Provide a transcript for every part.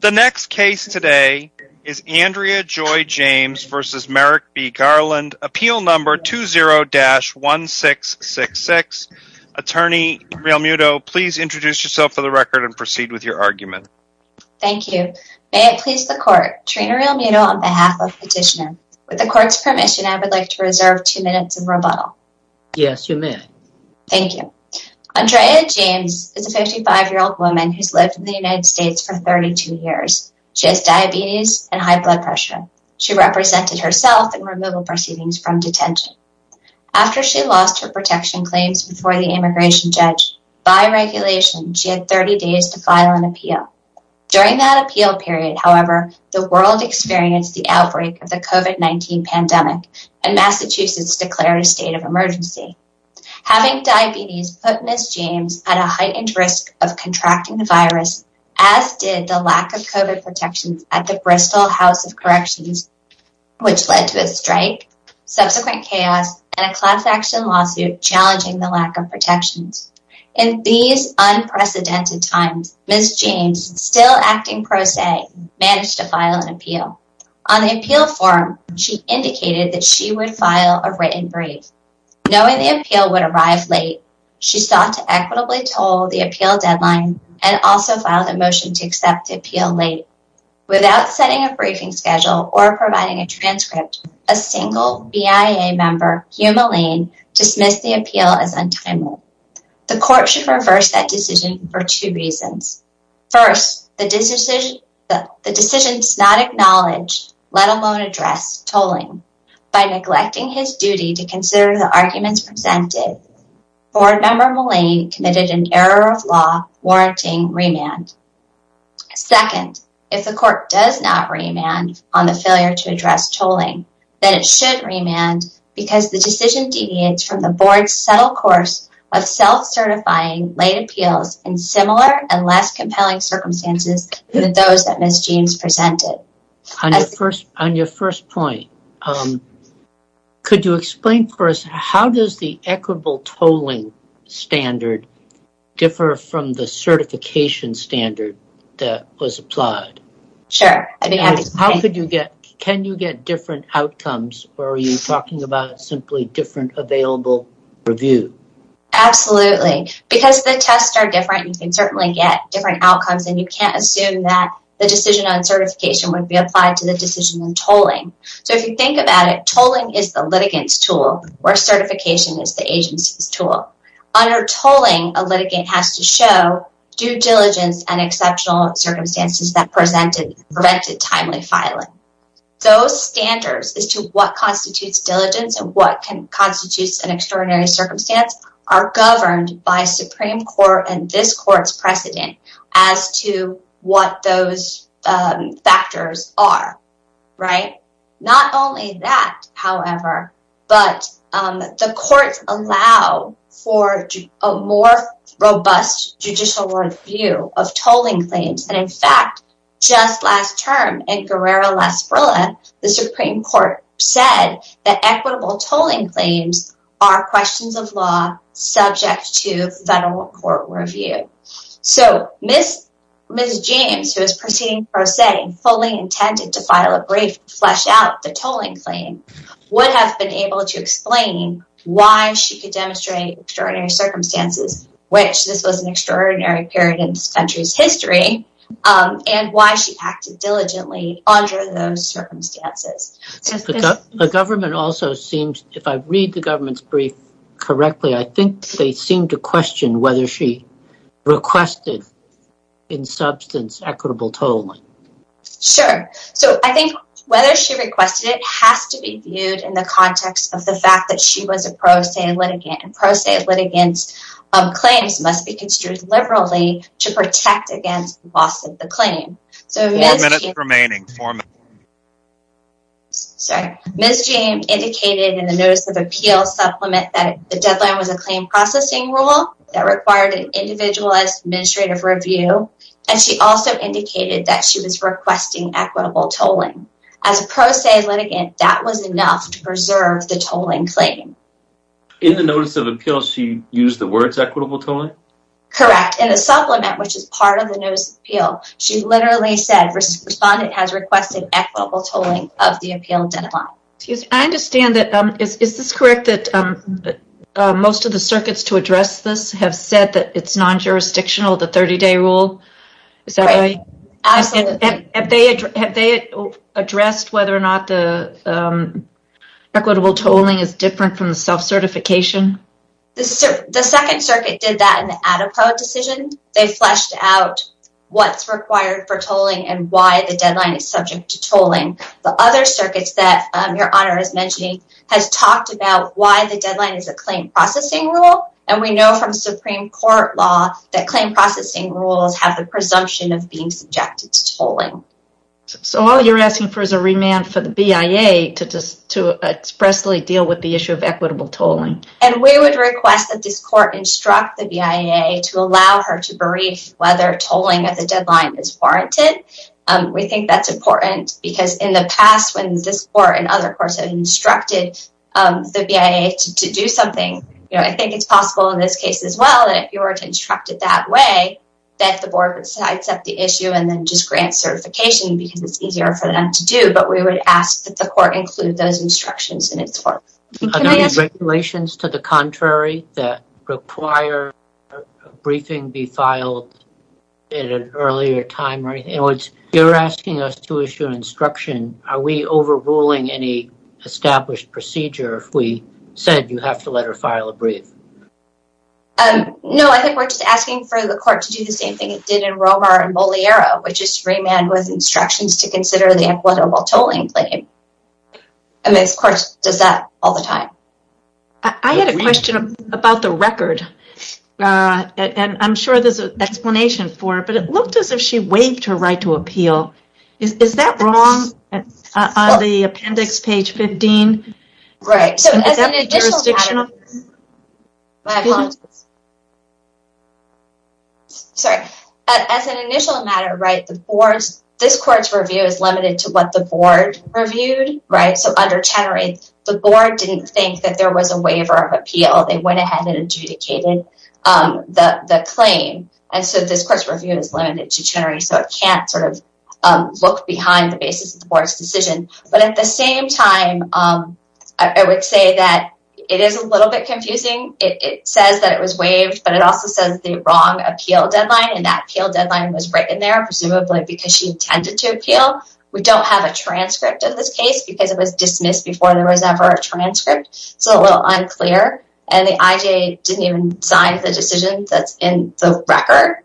The next case today is Andrea Joy James v. Merrick B. Garland, Appeal Number 20-1666. Attorney Trina Realmuto, please introduce yourself for the record and proceed with your argument. Thank you. May it please the Court, Trina Realmuto on behalf of Petitioner. With the Court's permission, I would like to reserve two minutes of rebuttal. Yes, you may. Thank you. Andrea James is a 55-year-old woman who's lived in the United States for 32 years. She has diabetes and high blood pressure. She represented herself in removal proceedings from detention. After she lost her protection claims before the immigration judge, by regulation, she had 30 days to file an appeal. During that appeal period, however, the world experienced the outbreak of the COVID-19 pandemic, and Massachusetts declared a state of emergency. Having diabetes put Ms. James at a heightened risk of contracting the virus, as did the lack of COVID protections at the Bristol House of Corrections, which led to a strike, subsequent chaos, and a class action lawsuit challenging the lack of protections. In these unprecedented times, Ms. James, still acting pro se, managed to file an appeal. On the appeal form, she indicated that she would file a written brief. Knowing the appeal would arrive late, she sought to equitably toll the appeal deadline and also filed a motion to accept the appeal late. Without setting a briefing schedule or providing a transcript, a single BIA member, Hugh Mullane, dismissed the appeal as untimely. The Court should reverse that decision for two reasons. First, the decision does not acknowledge, let alone address, tolling. By neglecting his duty to consider the arguments presented, Board Member Mullane committed an error of law warranting remand. Second, if the Court does not remand on the failure to address tolling, then it should remand because the decision deviates from the Board's subtle course of self-certifying late appeals in similar and less compelling circumstances than those that Ms. James presented. On your first point, could you explain for us, how does the equitable tolling standard differ from the certification standard that was applied? Sure. Can you get different outcomes, or are you talking about simply different available review? Absolutely. Because the tests are different, you can certainly get different outcomes, and you can't assume that the decision on certification would be applied to the decision on tolling. So if you think about it, tolling is the litigant's tool, where certification is the agency's tool. Under tolling, a litigant has to show due diligence and exceptional circumstances that prevented timely filing. Those standards as to what constitutes diligence and what constitutes an extraordinary circumstance are governed by Supreme Court and this Court's precedent as to what those factors are. Not only that, however, but the Courts allow for a more robust judicial review of tolling claims. And in fact, just last term in Guerrero-Las Brulas, the Supreme Court said that equitable tolling claims are questions of law subject to federal court review. So Ms. James, who is proceeding pro se, fully intended to file a brief to flesh out the tolling claim, would have been able to explain why she could demonstrate extraordinary circumstances, which this was an extraordinary period in this country's history, and why she acted diligently under those circumstances. The government also seems, if I read the government's brief correctly, I think they seem to question whether she requested in substance equitable tolling. Sure. So I think whether she requested it has to be viewed in the context of the fact that she was a pro se litigant and pro se litigants' claims must be construed liberally to protect against loss of the claim. Four minutes remaining. Sorry. Ms. James indicated in the Notice of Appeal supplement that the deadline was a claim processing rule that required an individualized administrative review, and she also indicated that she was requesting equitable tolling. As a pro se litigant, that was enough to preserve the tolling claim. In the Notice of Appeal, she used the words equitable tolling? Correct. In the supplement, which is part of the Notice of Appeal, she literally said respondent has requested equitable tolling of the appeal deadline. Excuse me. I understand that. Is this correct that most of the circuits to address this have said that it's non-jurisdictional, the 30-day rule? Right. Absolutely. Have they addressed whether or not the equitable tolling is different from the self-certification? The Second Circuit did that in the Adepo decision. They fleshed out what's required for tolling and why the deadline is subject to tolling. The other circuits that Your Honor is mentioning has talked about why the deadline is a claim processing rule, and we know from Supreme Court law that claim processing rules have the presumption of being subjected to tolling. So all you're asking for is a remand for the BIA to expressly deal with the issue of equitable tolling. And we would request that this court instruct the BIA to allow her to brief whether tolling at the deadline is warranted. We think that's important because in the past when this court and other courts have instructed the BIA to do something, I think it's possible in this case as well that if you were to instruct it that way, that the board would accept the issue and then just grant certification because it's easier for them to do. But we would ask that the court include those instructions in its work. Are there any regulations to the contrary that require a briefing be filed at an earlier time? In other words, you're asking us to issue an instruction. Are we overruling any established procedure if we said you have to let her file a brief? No, I think we're just asking for the court to do the same thing it did in Romar and Moliero, which is remand with instructions to consider the equitable tolling claim. And this court does that all the time. I had a question about the record, and I'm sure there's an explanation for it, but it looked as if she waived her right to appeal. Is that wrong on the appendix, page 15? Right, so as an initial matter, this court's review is limited to what the board reviewed. So under Chenery, the board didn't think that there was a waiver of appeal. They went ahead and adjudicated the claim. And so this court's review is limited to Chenery, so it can't sort of look behind the basis of the board's decision. But at the same time, I would say that it is a little bit confusing. It says that it was waived, but it also says the wrong appeal deadline, and that appeal deadline was written there presumably because she intended to appeal. We don't have a transcript of this case because it was dismissed before there was ever a transcript. It's a little unclear, and the IJA didn't even sign the decision that's in the record.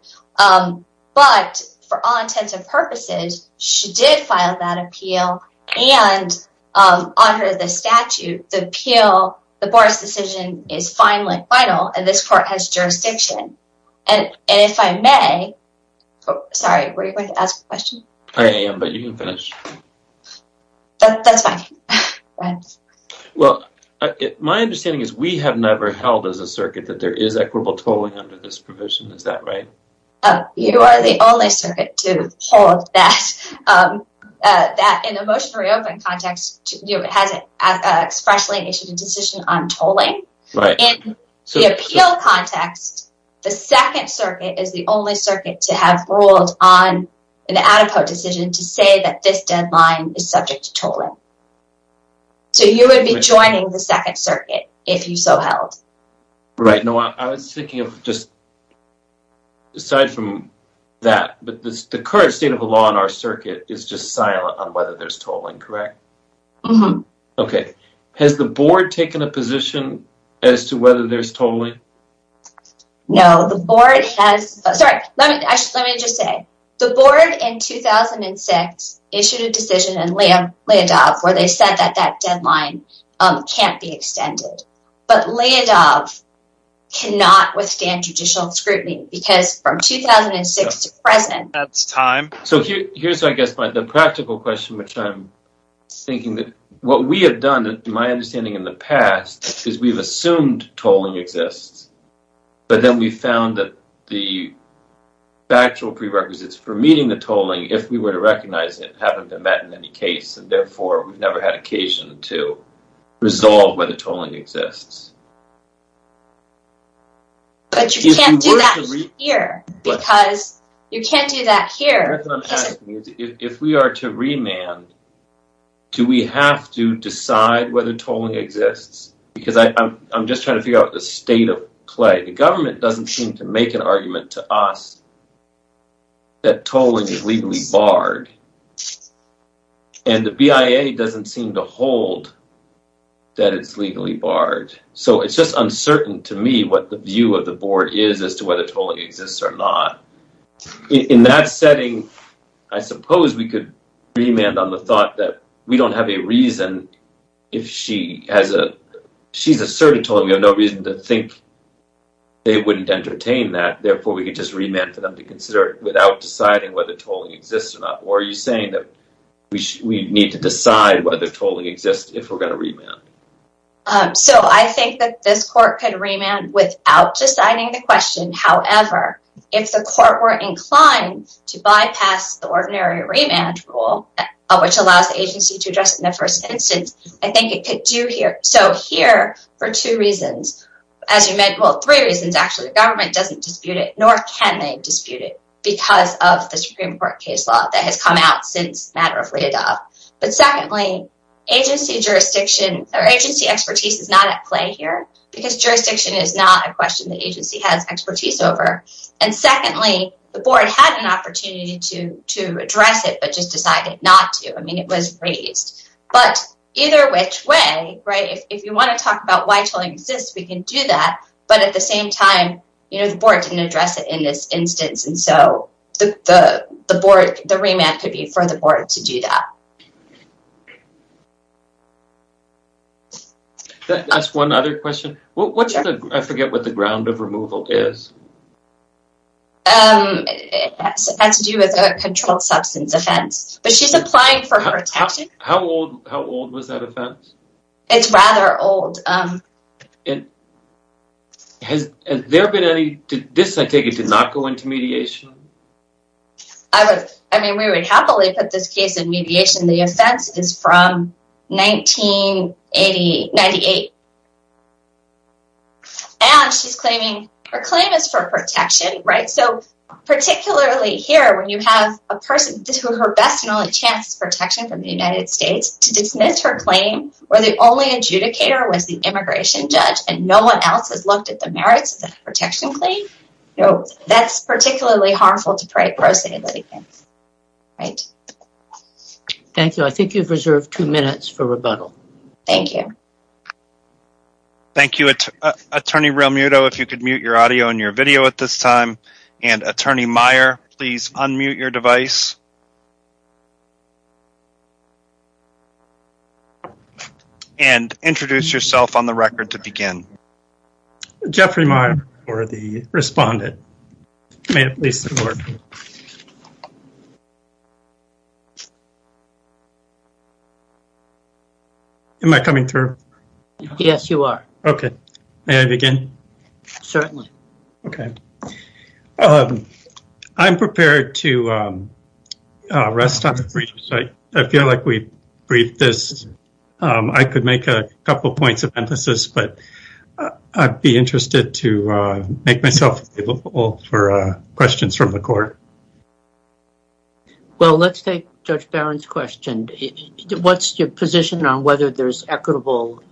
But for all intents and purposes, she did file that appeal, and under the statute, the appeal, the board's decision is finally final, and this court has jurisdiction. And if I may, sorry, were you going to ask a question? I am, but you can finish. That's fine. Well, my understanding is we have never held as a circuit that there is equitable tolling under this provision. Is that right? You are the only circuit to hold that. In a motion to reopen context, it has expressly issued a decision on tolling. In the appeal context, the Second Circuit is the only circuit to have ruled on an ad epo decision to say that this deadline is subject to tolling. So you would be joining the Second Circuit if you so held. Right. No, I was thinking of just aside from that, but the current state of the law in our circuit is just silent on whether there's tolling, correct? Mm-hmm. Okay. Has the board taken a position as to whether there's tolling? No. The board has — sorry, let me just say. The board in 2006 issued a decision in Leodov where they said that that deadline can't be extended. But Leodov cannot withstand judicial scrutiny because from 2006 to present — That's time. So here's, I guess, the practical question, which I'm thinking that what we have done, my understanding in the past, is we've assumed tolling exists. But then we found that the factual prerequisites for meeting the tolling, if we were to recognize it, haven't been met in any case, and therefore we've never had occasion to resolve whether tolling exists. But you can't do that here because you can't do that here. That's what I'm asking. If we are to remand, do we have to decide whether tolling exists? Because I'm just trying to figure out the state of play. The government doesn't seem to make an argument to us that tolling is legally barred, and the BIA doesn't seem to hold that it's legally barred. So it's just uncertain to me what the view of the board is as to whether tolling exists or not. In that setting, I suppose we could remand on the thought that we don't have a reason if she has a — She's asserted tolling. We have no reason to think they wouldn't entertain that. Therefore, we could just remand for them to consider it without deciding whether tolling exists or not. Or are you saying that we need to decide whether tolling exists if we're going to remand? So I think that this court could remand without deciding the question. However, if the court were inclined to bypass the ordinary remand rule, which allows the agency to address it in the first instance, I think it could do here. So here, for two reasons. Well, three reasons, actually. The government doesn't dispute it, nor can they dispute it, because of the Supreme Court case law that has come out since the matter of Leadoff. But secondly, agency jurisdiction or agency expertise is not at play here, because jurisdiction is not a question the agency has expertise over. And secondly, the board had an opportunity to address it, but just decided not to. I mean, it was raised. But either which way, right, if you want to talk about why tolling exists, we can do that. But at the same time, you know, the board didn't address it in this instance. And so the board, the remand could be for the board to do that. That's one other question. I forget what the ground of removal is. It has to do with a controlled substance offense. But she's applying for her taxes. How old was that offense? It's rather old. Has there been any – this, I take it, did not go into mediation? I mean, we would happily put this case in mediation. The offense is from 1998. And she's claiming her claim is for protection, right? So particularly here, when you have a person who her best and only chance is protection from the United States, to dismiss her claim where the only adjudicator was the immigration judge and no one else has looked at the merits of the protection claim, that's particularly harmful to pro se litigants, right? Thank you. I think you've reserved two minutes for rebuttal. Thank you. Thank you. Attorney Realmuto, if you could mute your audio and your video at this time. And, Attorney Meyer, please unmute your device. And introduce yourself on the record to begin. Jeffrey Meyer for the respondent. May it please the court. Am I coming through? Yes, you are. Okay. May I begin? Certainly. Okay. I'm prepared to rest on the briefs. I feel like we've briefed this. I could make a couple points of emphasis, but I'd be interested to make myself available for questions from the court. Well, let's take Judge Barron's question. What's your position on whether there's equitable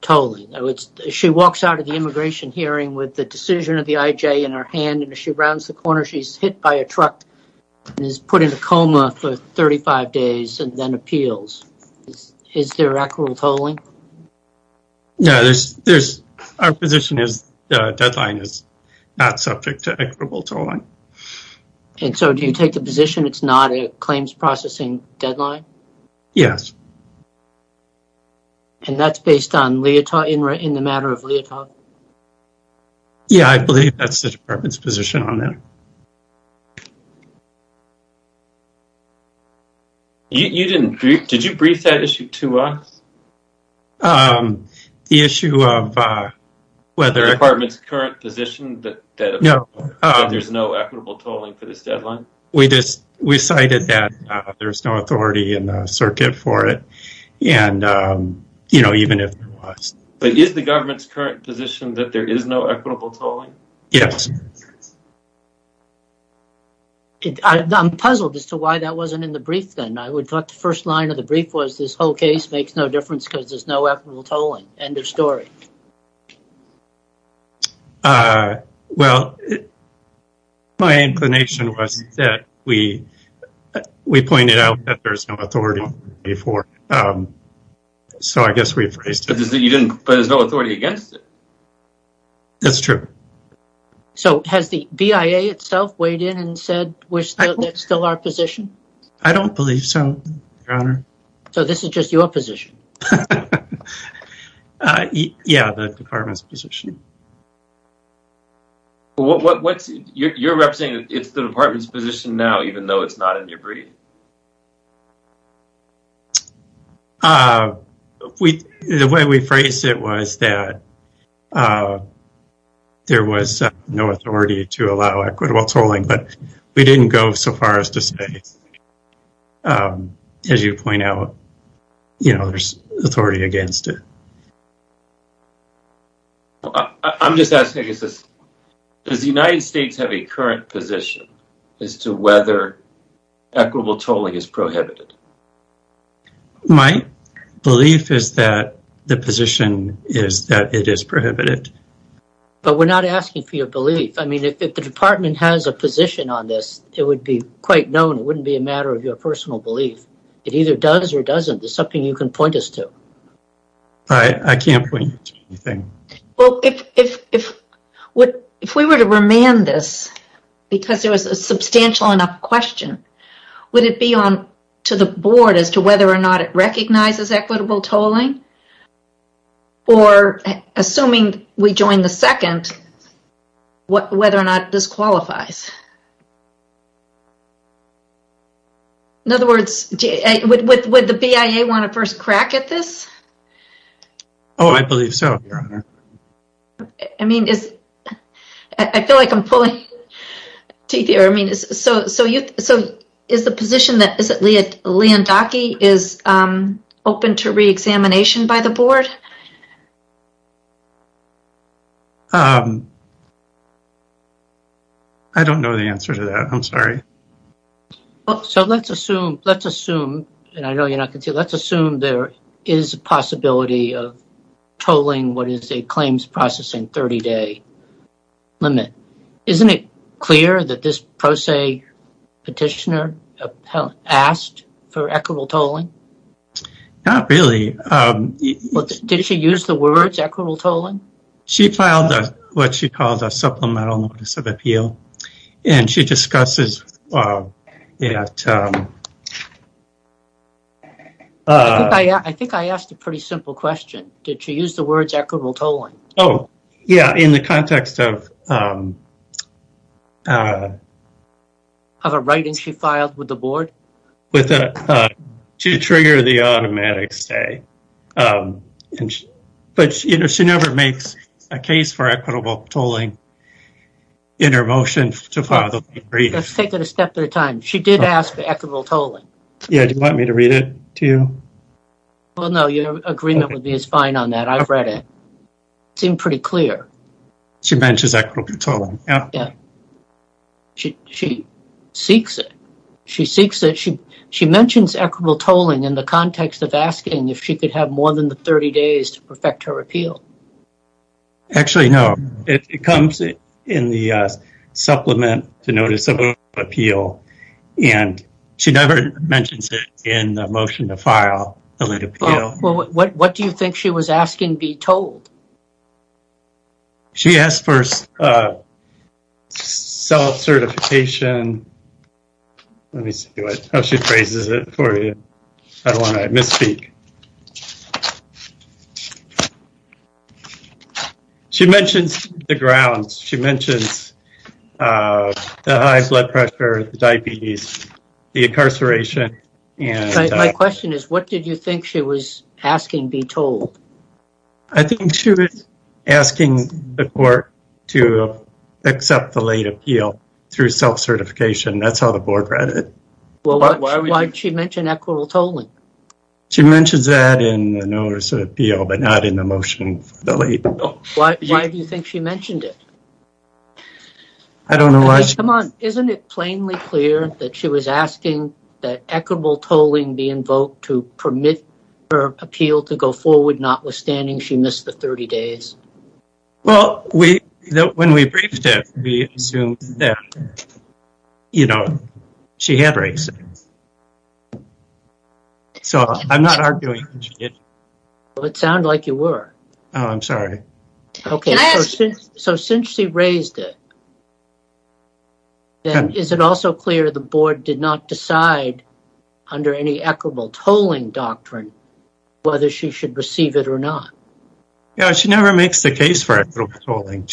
tolling? She walks out of the immigration hearing with the decision of the IJ in her hand, and as she rounds the corner, she's hit by a truck and is put in a coma for 35 days and then appeals. Is there equitable tolling? No. Our position is the deadline is not subject to equitable tolling. And so do you take the position it's not a claims processing deadline? Yes. And that's based on Leotard in the matter of Leotard? Yeah, I believe that's the department's position on that. Did you brief that issue to us? The issue of whether the department's current position that there's no equitable tolling for this deadline? We cited that there's no authority in the circuit for it, even if there was. But is the government's current position that there is no equitable tolling? Yes. I'm puzzled as to why that wasn't in the brief then. I would thought the first line of the brief was this whole case makes no difference because there's no equitable tolling. End of story. Well, my inclination was that we pointed out that there's no authority for it. So I guess we phrased it. But there's no authority against it. That's true. So has the BIA itself weighed in and said that's still our position? I don't believe so, Your Honor. So this is just your position? Yeah, the department's position. You're representing the department's position now, even though it's not in your brief? The way we phrased it was that there was no authority to allow equitable tolling, but we didn't go so far as to say, as you point out, there's authority against it. I'm just asking, does the United States have a current position as to whether equitable tolling is prohibited? My belief is that the position is that it is prohibited. But we're not asking for your belief. I mean, if the department has a position on this, it would be quite known. It wouldn't be a matter of your personal belief. It either does or doesn't. It's something you can point us to. I can't point you to anything. Well, if we were to remand this because there was a substantial enough question, would it be on to the board as to whether or not it recognizes equitable tolling? Or assuming we join the second, whether or not this qualifies? In other words, would the BIA want to first crack at this? Oh, I believe so, Your Honor. I mean, I feel like I'm pulling teeth here. I mean, so is the position that Leondocke is open to reexamination by the board? I don't know the answer to that. I'm sorry. So let's assume, let's assume, and I know you're not going to, let's assume there is a possibility of tolling what is a claims processing 30-day limit. Isn't it clear that this pro se petitioner asked for equitable tolling? Not really. Did she use the words equitable tolling? She filed what she called a supplemental notice of appeal, and she discusses it. I think I asked a pretty simple question. Did she use the words equitable tolling? Oh, yeah. In the context of. Of a writing she filed with the board? She triggered the automatic stay, but she never makes a case for equitable tolling in her motion to file the brief. Let's take it a step at a time. She did ask for equitable tolling. Yeah. Do you want me to read it to you? Well, no, your agreement with me is fine on that. I've read it. It seemed pretty clear. She mentions equitable tolling. Yeah. She seeks it. She mentions equitable tolling in the context of asking if she could have more than the 30 days to perfect her appeal. Actually, no. It comes in the supplement to notice of appeal, and she never mentions it in the motion to file the late appeal. Well, what do you think she was asking be tolled? She asked for self-certification. Let me see. Oh, she phrases it for you. I don't want to misspeak. She mentions the grounds. She mentions the high blood pressure, the diabetes, the incarceration. I think she was asking the court to accept the late appeal through self-certification. That's how the board read it. Why did she mention equitable tolling? She mentions that in the notice of appeal, but not in the motion for the late appeal. Why do you think she mentioned it? I don't know why. Come on. Isn't it plainly clear that she was asking that equitable tolling be invoked to permit her appeal to go forward, notwithstanding she missed the 30 days? Well, when we briefed it, we assumed that, you know, she had raised it. So, I'm not arguing that she did. It sounded like you were. Oh, I'm sorry. So, since she raised it, then is it also clear the board did not decide under any equitable tolling doctrine whether she should receive it or not? Yeah, she never makes the case for equitable tolling.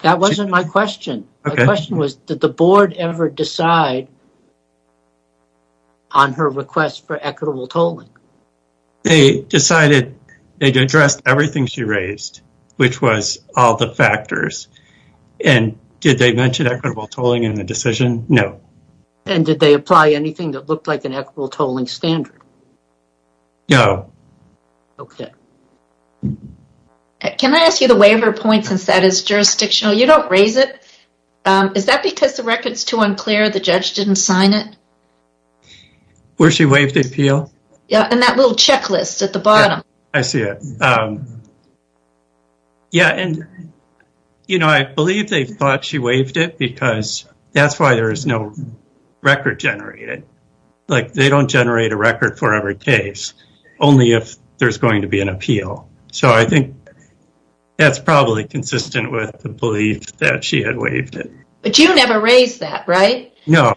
That wasn't my question. My question was, did the board ever decide on her request for equitable tolling? They decided they addressed everything she raised, which was all the factors. And did they mention equitable tolling in the decision? No. And did they apply anything that looked like an equitable tolling standard? No. Okay. Can I ask you the waiver point since that is jurisdictional? You don't raise it. Is that because the record is too unclear? The judge didn't sign it? Where she waived the appeal? Yeah, in that little checklist at the bottom. I see it. Yeah, and, you know, I believe they thought she waived it because that's why there is no record generated. Like, they don't generate a record for every case, only if there's going to be an appeal. So, I think that's probably consistent with the belief that she had waived it. But you never raised that, right? No.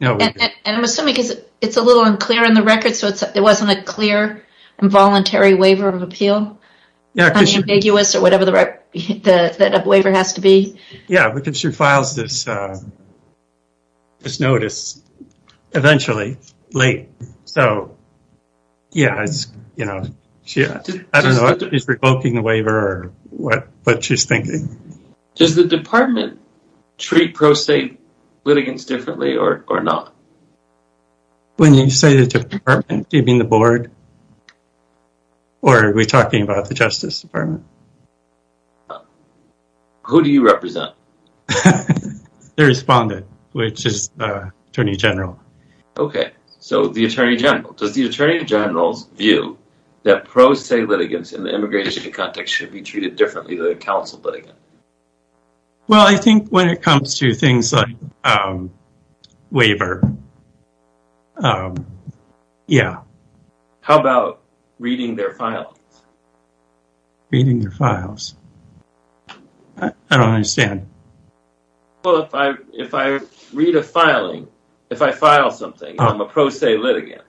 And I'm assuming because it's a little unclear in the record, so it wasn't a clear, involuntary waiver of appeal? Unambiguous or whatever the waiver has to be? Yeah, because she files this notice eventually, late. So, yeah, I don't know if she's revoking the waiver or what she's thinking. Does the department treat pro se litigants differently or not? When you say the department, do you mean the board? Or are we talking about the Justice Department? Who do you represent? The respondent, which is Attorney General. Okay, so the Attorney General. Does the Attorney General's view that pro se litigants in the immigration context should be treated differently than a counsel litigant? Well, I think when it comes to things like waiver, yeah. How about reading their files? Reading their files? I don't understand. Well, if I read a filing, if I file something, I'm a pro se litigant.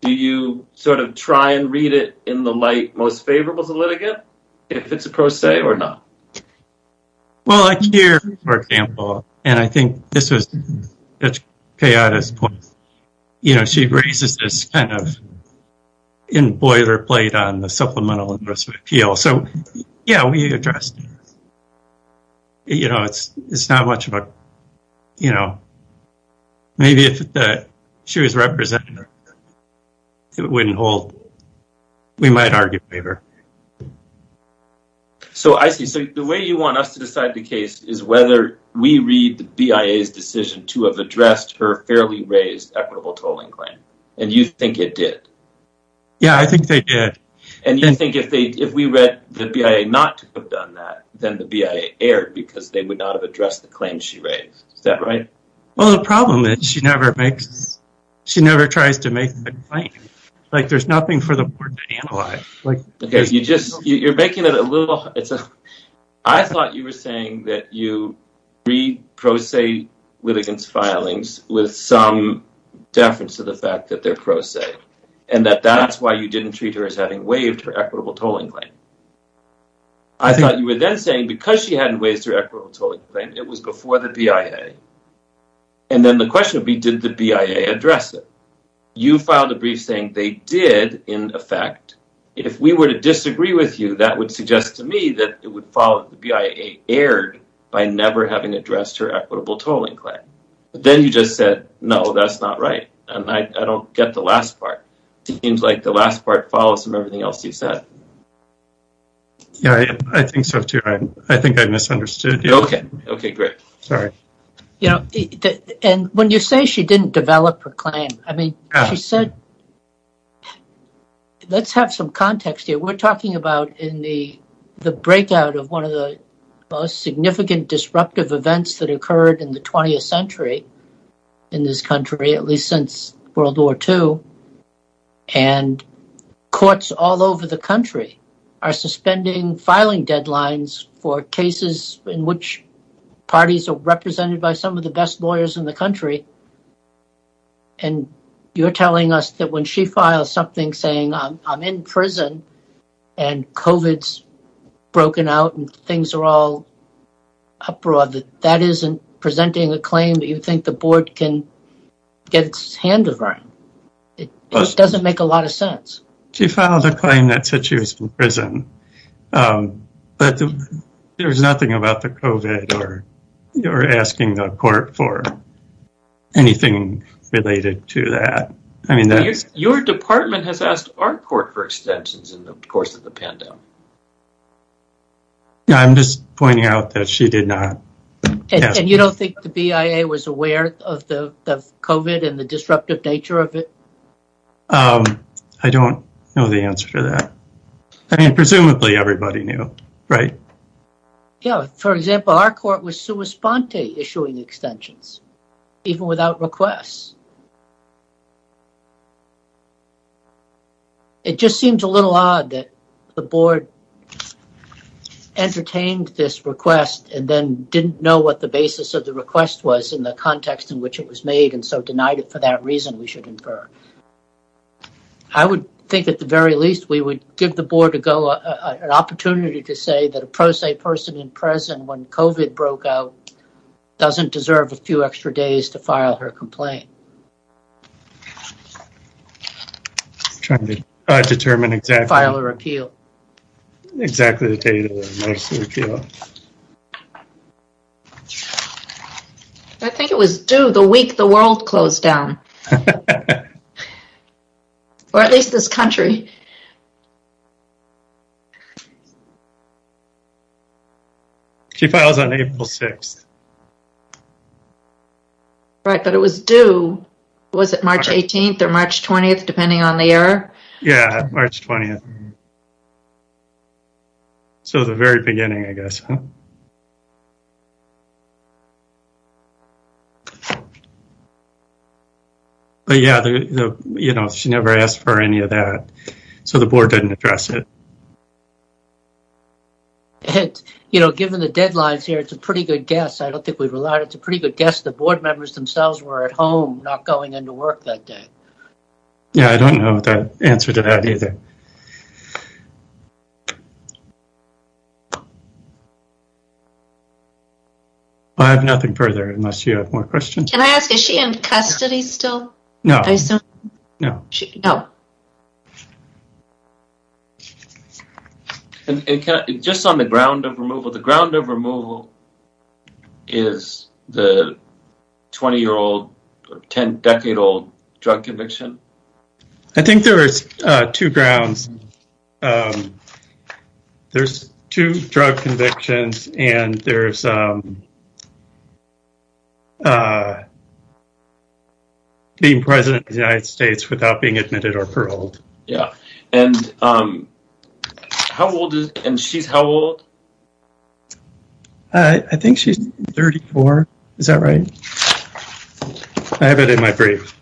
Do you sort of try and read it in the light most favorable to the litigant, if it's a pro se or not? Well, like here, for example, and I think this was Judge Kayada's point. You know, she raises this kind of boilerplate on the supplemental address of appeal. So, yeah, we addressed it. You know, it's not much of a, you know, maybe if she was representative, it wouldn't hold. We might argue waiver. So, I see. So, the way you want us to decide the case is whether we read the BIA's decision to have addressed her fairly raised equitable tolling claim. And you think it did? Yeah, I think they did. And you think if we read the BIA not to have done that, then the BIA erred because they would not have addressed the claim she raised. Is that right? Well, the problem is she never tries to make the claim. Like, there's nothing for the board to analyze. Okay, you're making it a little hard. I thought you were saying that you read pro se litigants' filings with some deference to the fact that they're pro se. And that that's why you didn't treat her as having waived her equitable tolling claim. I thought you were then saying because she hadn't waived her equitable tolling claim, it was before the BIA. And then the question would be, did the BIA address it? You filed a brief saying they did, in effect. If we were to disagree with you, that would suggest to me that it would follow that the BIA erred by never having addressed her equitable tolling claim. But then you just said, no, that's not right. And I don't get the last part. It seems like the last part follows from everything else you said. Yeah, I think so, too. I think I misunderstood you. Okay, great. Sorry. And when you say she didn't develop her claim, I mean, she said, let's have some context here. We're talking about in the breakout of one of the most significant disruptive events that occurred in the 20th century in this country, at least since World War II. And courts all over the country are suspending filing deadlines for cases in which parties are represented by some of the best lawyers in the country. And you're telling us that when she files something saying, I'm in prison and COVID's broken out and things are all uproar, that that isn't presenting a claim that you think the board can get its hands around? It doesn't make a lot of sense. She filed a claim that said she was in prison. But there was nothing about the COVID or asking the court for anything related to that. I mean, your department has asked our court for extensions in the course of the pandemic. I'm just pointing out that she did not. And you don't think the BIA was aware of the COVID and the disruptive nature of it? I don't know the answer to that. I mean, presumably everybody knew, right? Yeah, for example, our court was sua sponte issuing extensions, even without requests. It just seems a little odd that the board entertained this request and then didn't know what the basis of the request was in the context in which it was made and so denied it for that reason, we should infer. I would think at the very least we would give the board an opportunity to say that a pro se person in prison when COVID broke out doesn't deserve a few extra days to file her complaint. Determine exactly. File a repeal. Exactly. I think it was due the week the world closed down. Or at least this country. She files on April 6th. Right, but it was due, was it March 18th or March 20th, depending on the year? Yeah, March 20th. So the very beginning, I guess. But yeah, you know, she never asked for any of that. So the board didn't address it. And, you know, given the deadlines here, it's a pretty good guess. I don't think we've relied. It's a pretty good guess. The board members themselves were at home, not going into work that day. Yeah, I don't know the answer to that either. I have nothing further unless you have more questions. Can I ask, is she in custody still? No. No. No. And just on the ground of removal, the ground of removal is the 20-year-old, 10-decade-old drug conviction? I think there were two grounds. There's two drug convictions, and there's being President of the United States without being admitted or paroled. Yeah. And how old is, and she's how old? I think she's 34. Is that right? I have it in my brief.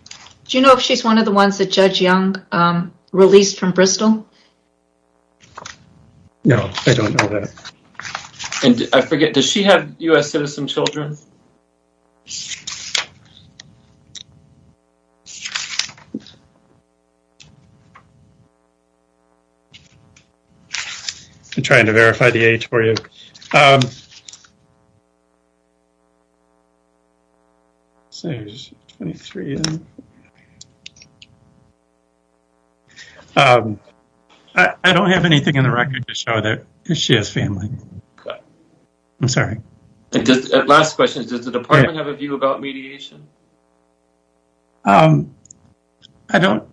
Do you know if she's one of the ones that Judge Young released from Bristol? No, I don't know that. And I forget, does she have U.S. citizen children? I'm trying to verify the age for you. Okay. I don't have anything in the record to show that she has family. I'm sorry. Last question, does the department have a view about mediation? I don't.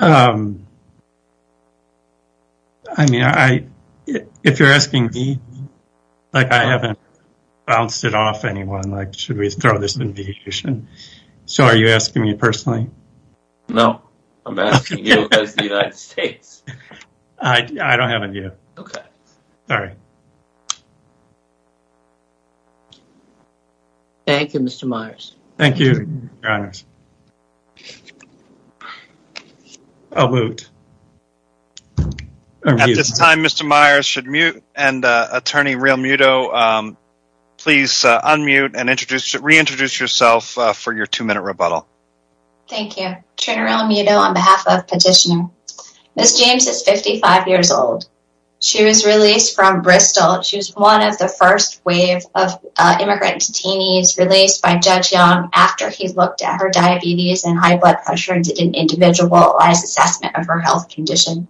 I mean, if you're asking me, like I haven't bounced it off anyone, like should we throw this in mediation? So are you asking me personally? No, I'm asking you as the United States. I don't have a view. Okay. Sorry. Thank you, Mr. Myers. Thank you, Your Honors. I'll mute. At this time, Mr. Myers should mute, and Attorney Realmuto, please unmute and reintroduce yourself for your two-minute rebuttal. Thank you. Trina Realmuto on behalf of Petitioner. Ms. James is 55 years old. She was released from Bristol. She was one of the first wave of immigrant detainees released by Judge Young after he looked at her diabetes and high blood pressure and did an individualized assessment of her health condition.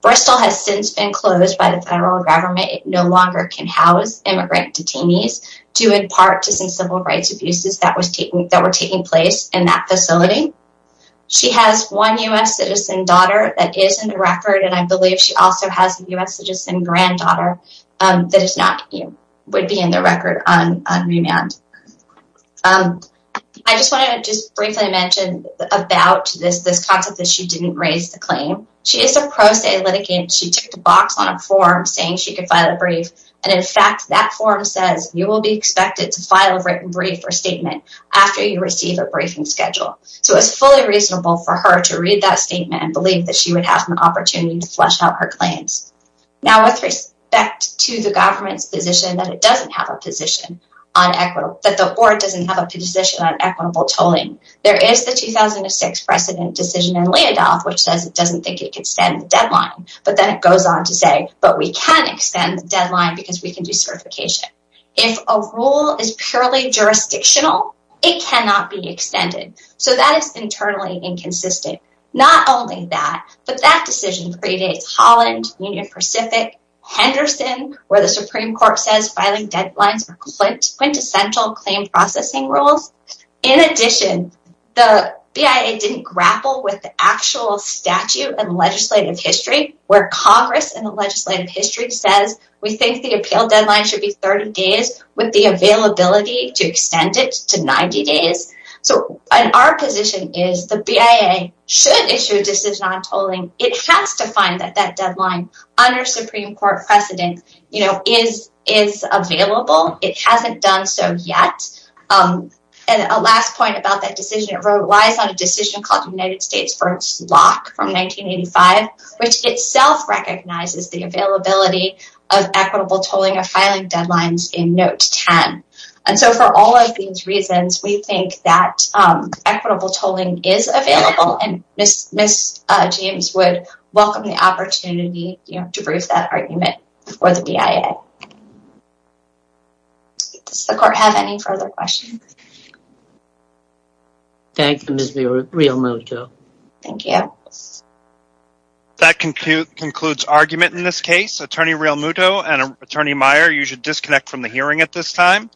Bristol has since been closed by the federal government. It no longer can house immigrant detainees due in part to some civil rights abuses that were taking place in that facility. She has one U.S. citizen daughter that is in the record, and I believe she also has a U.S. citizen granddaughter. That is not, would be in the record on remand. I just want to just briefly mention about this concept that she didn't raise the claim. She is a pro se litigant. She took the box on a form saying she could file a brief, and in fact, that form says you will be expected to file a written brief or statement after you receive a briefing schedule. So it's fully reasonable for her to read that statement and believe that she would have an opportunity to flesh out her claims. Now with respect to the government's position that it doesn't have a position on equitable, that the court doesn't have a position on equitable tolling, there is the 2006 precedent decision in Leodolph which says it doesn't think it can extend the deadline. But then it goes on to say, but we can extend the deadline because we can do certification. If a rule is purely jurisdictional, it cannot be extended. So that is internally inconsistent. Not only that, but that decision predates Holland, Union Pacific, Henderson, where the Supreme Court says filing deadlines are quintessential claim processing rules. In addition, the BIA didn't grapple with the actual statute and legislative history where Congress and the legislative history says we think the appeal deadline should be 30 days with the availability to extend it to 90 days. Our position is the BIA should issue a decision on tolling. It has to find that that deadline under Supreme Court precedent is available. It hasn't done so yet. And a last point about that decision relies on a decision called United States v. Locke from 1985, which itself recognizes the availability of equitable tolling or filing deadlines in Note 10. And so for all of these reasons, we think that equitable tolling is available and Ms. James would welcome the opportunity to prove that argument for the BIA. Does the court have any further questions? Thank you, Ms. Realmuto. Thank you. That concludes argument in this case. Attorney Realmuto and Attorney Meyer, you should disconnect from the hearing at this time.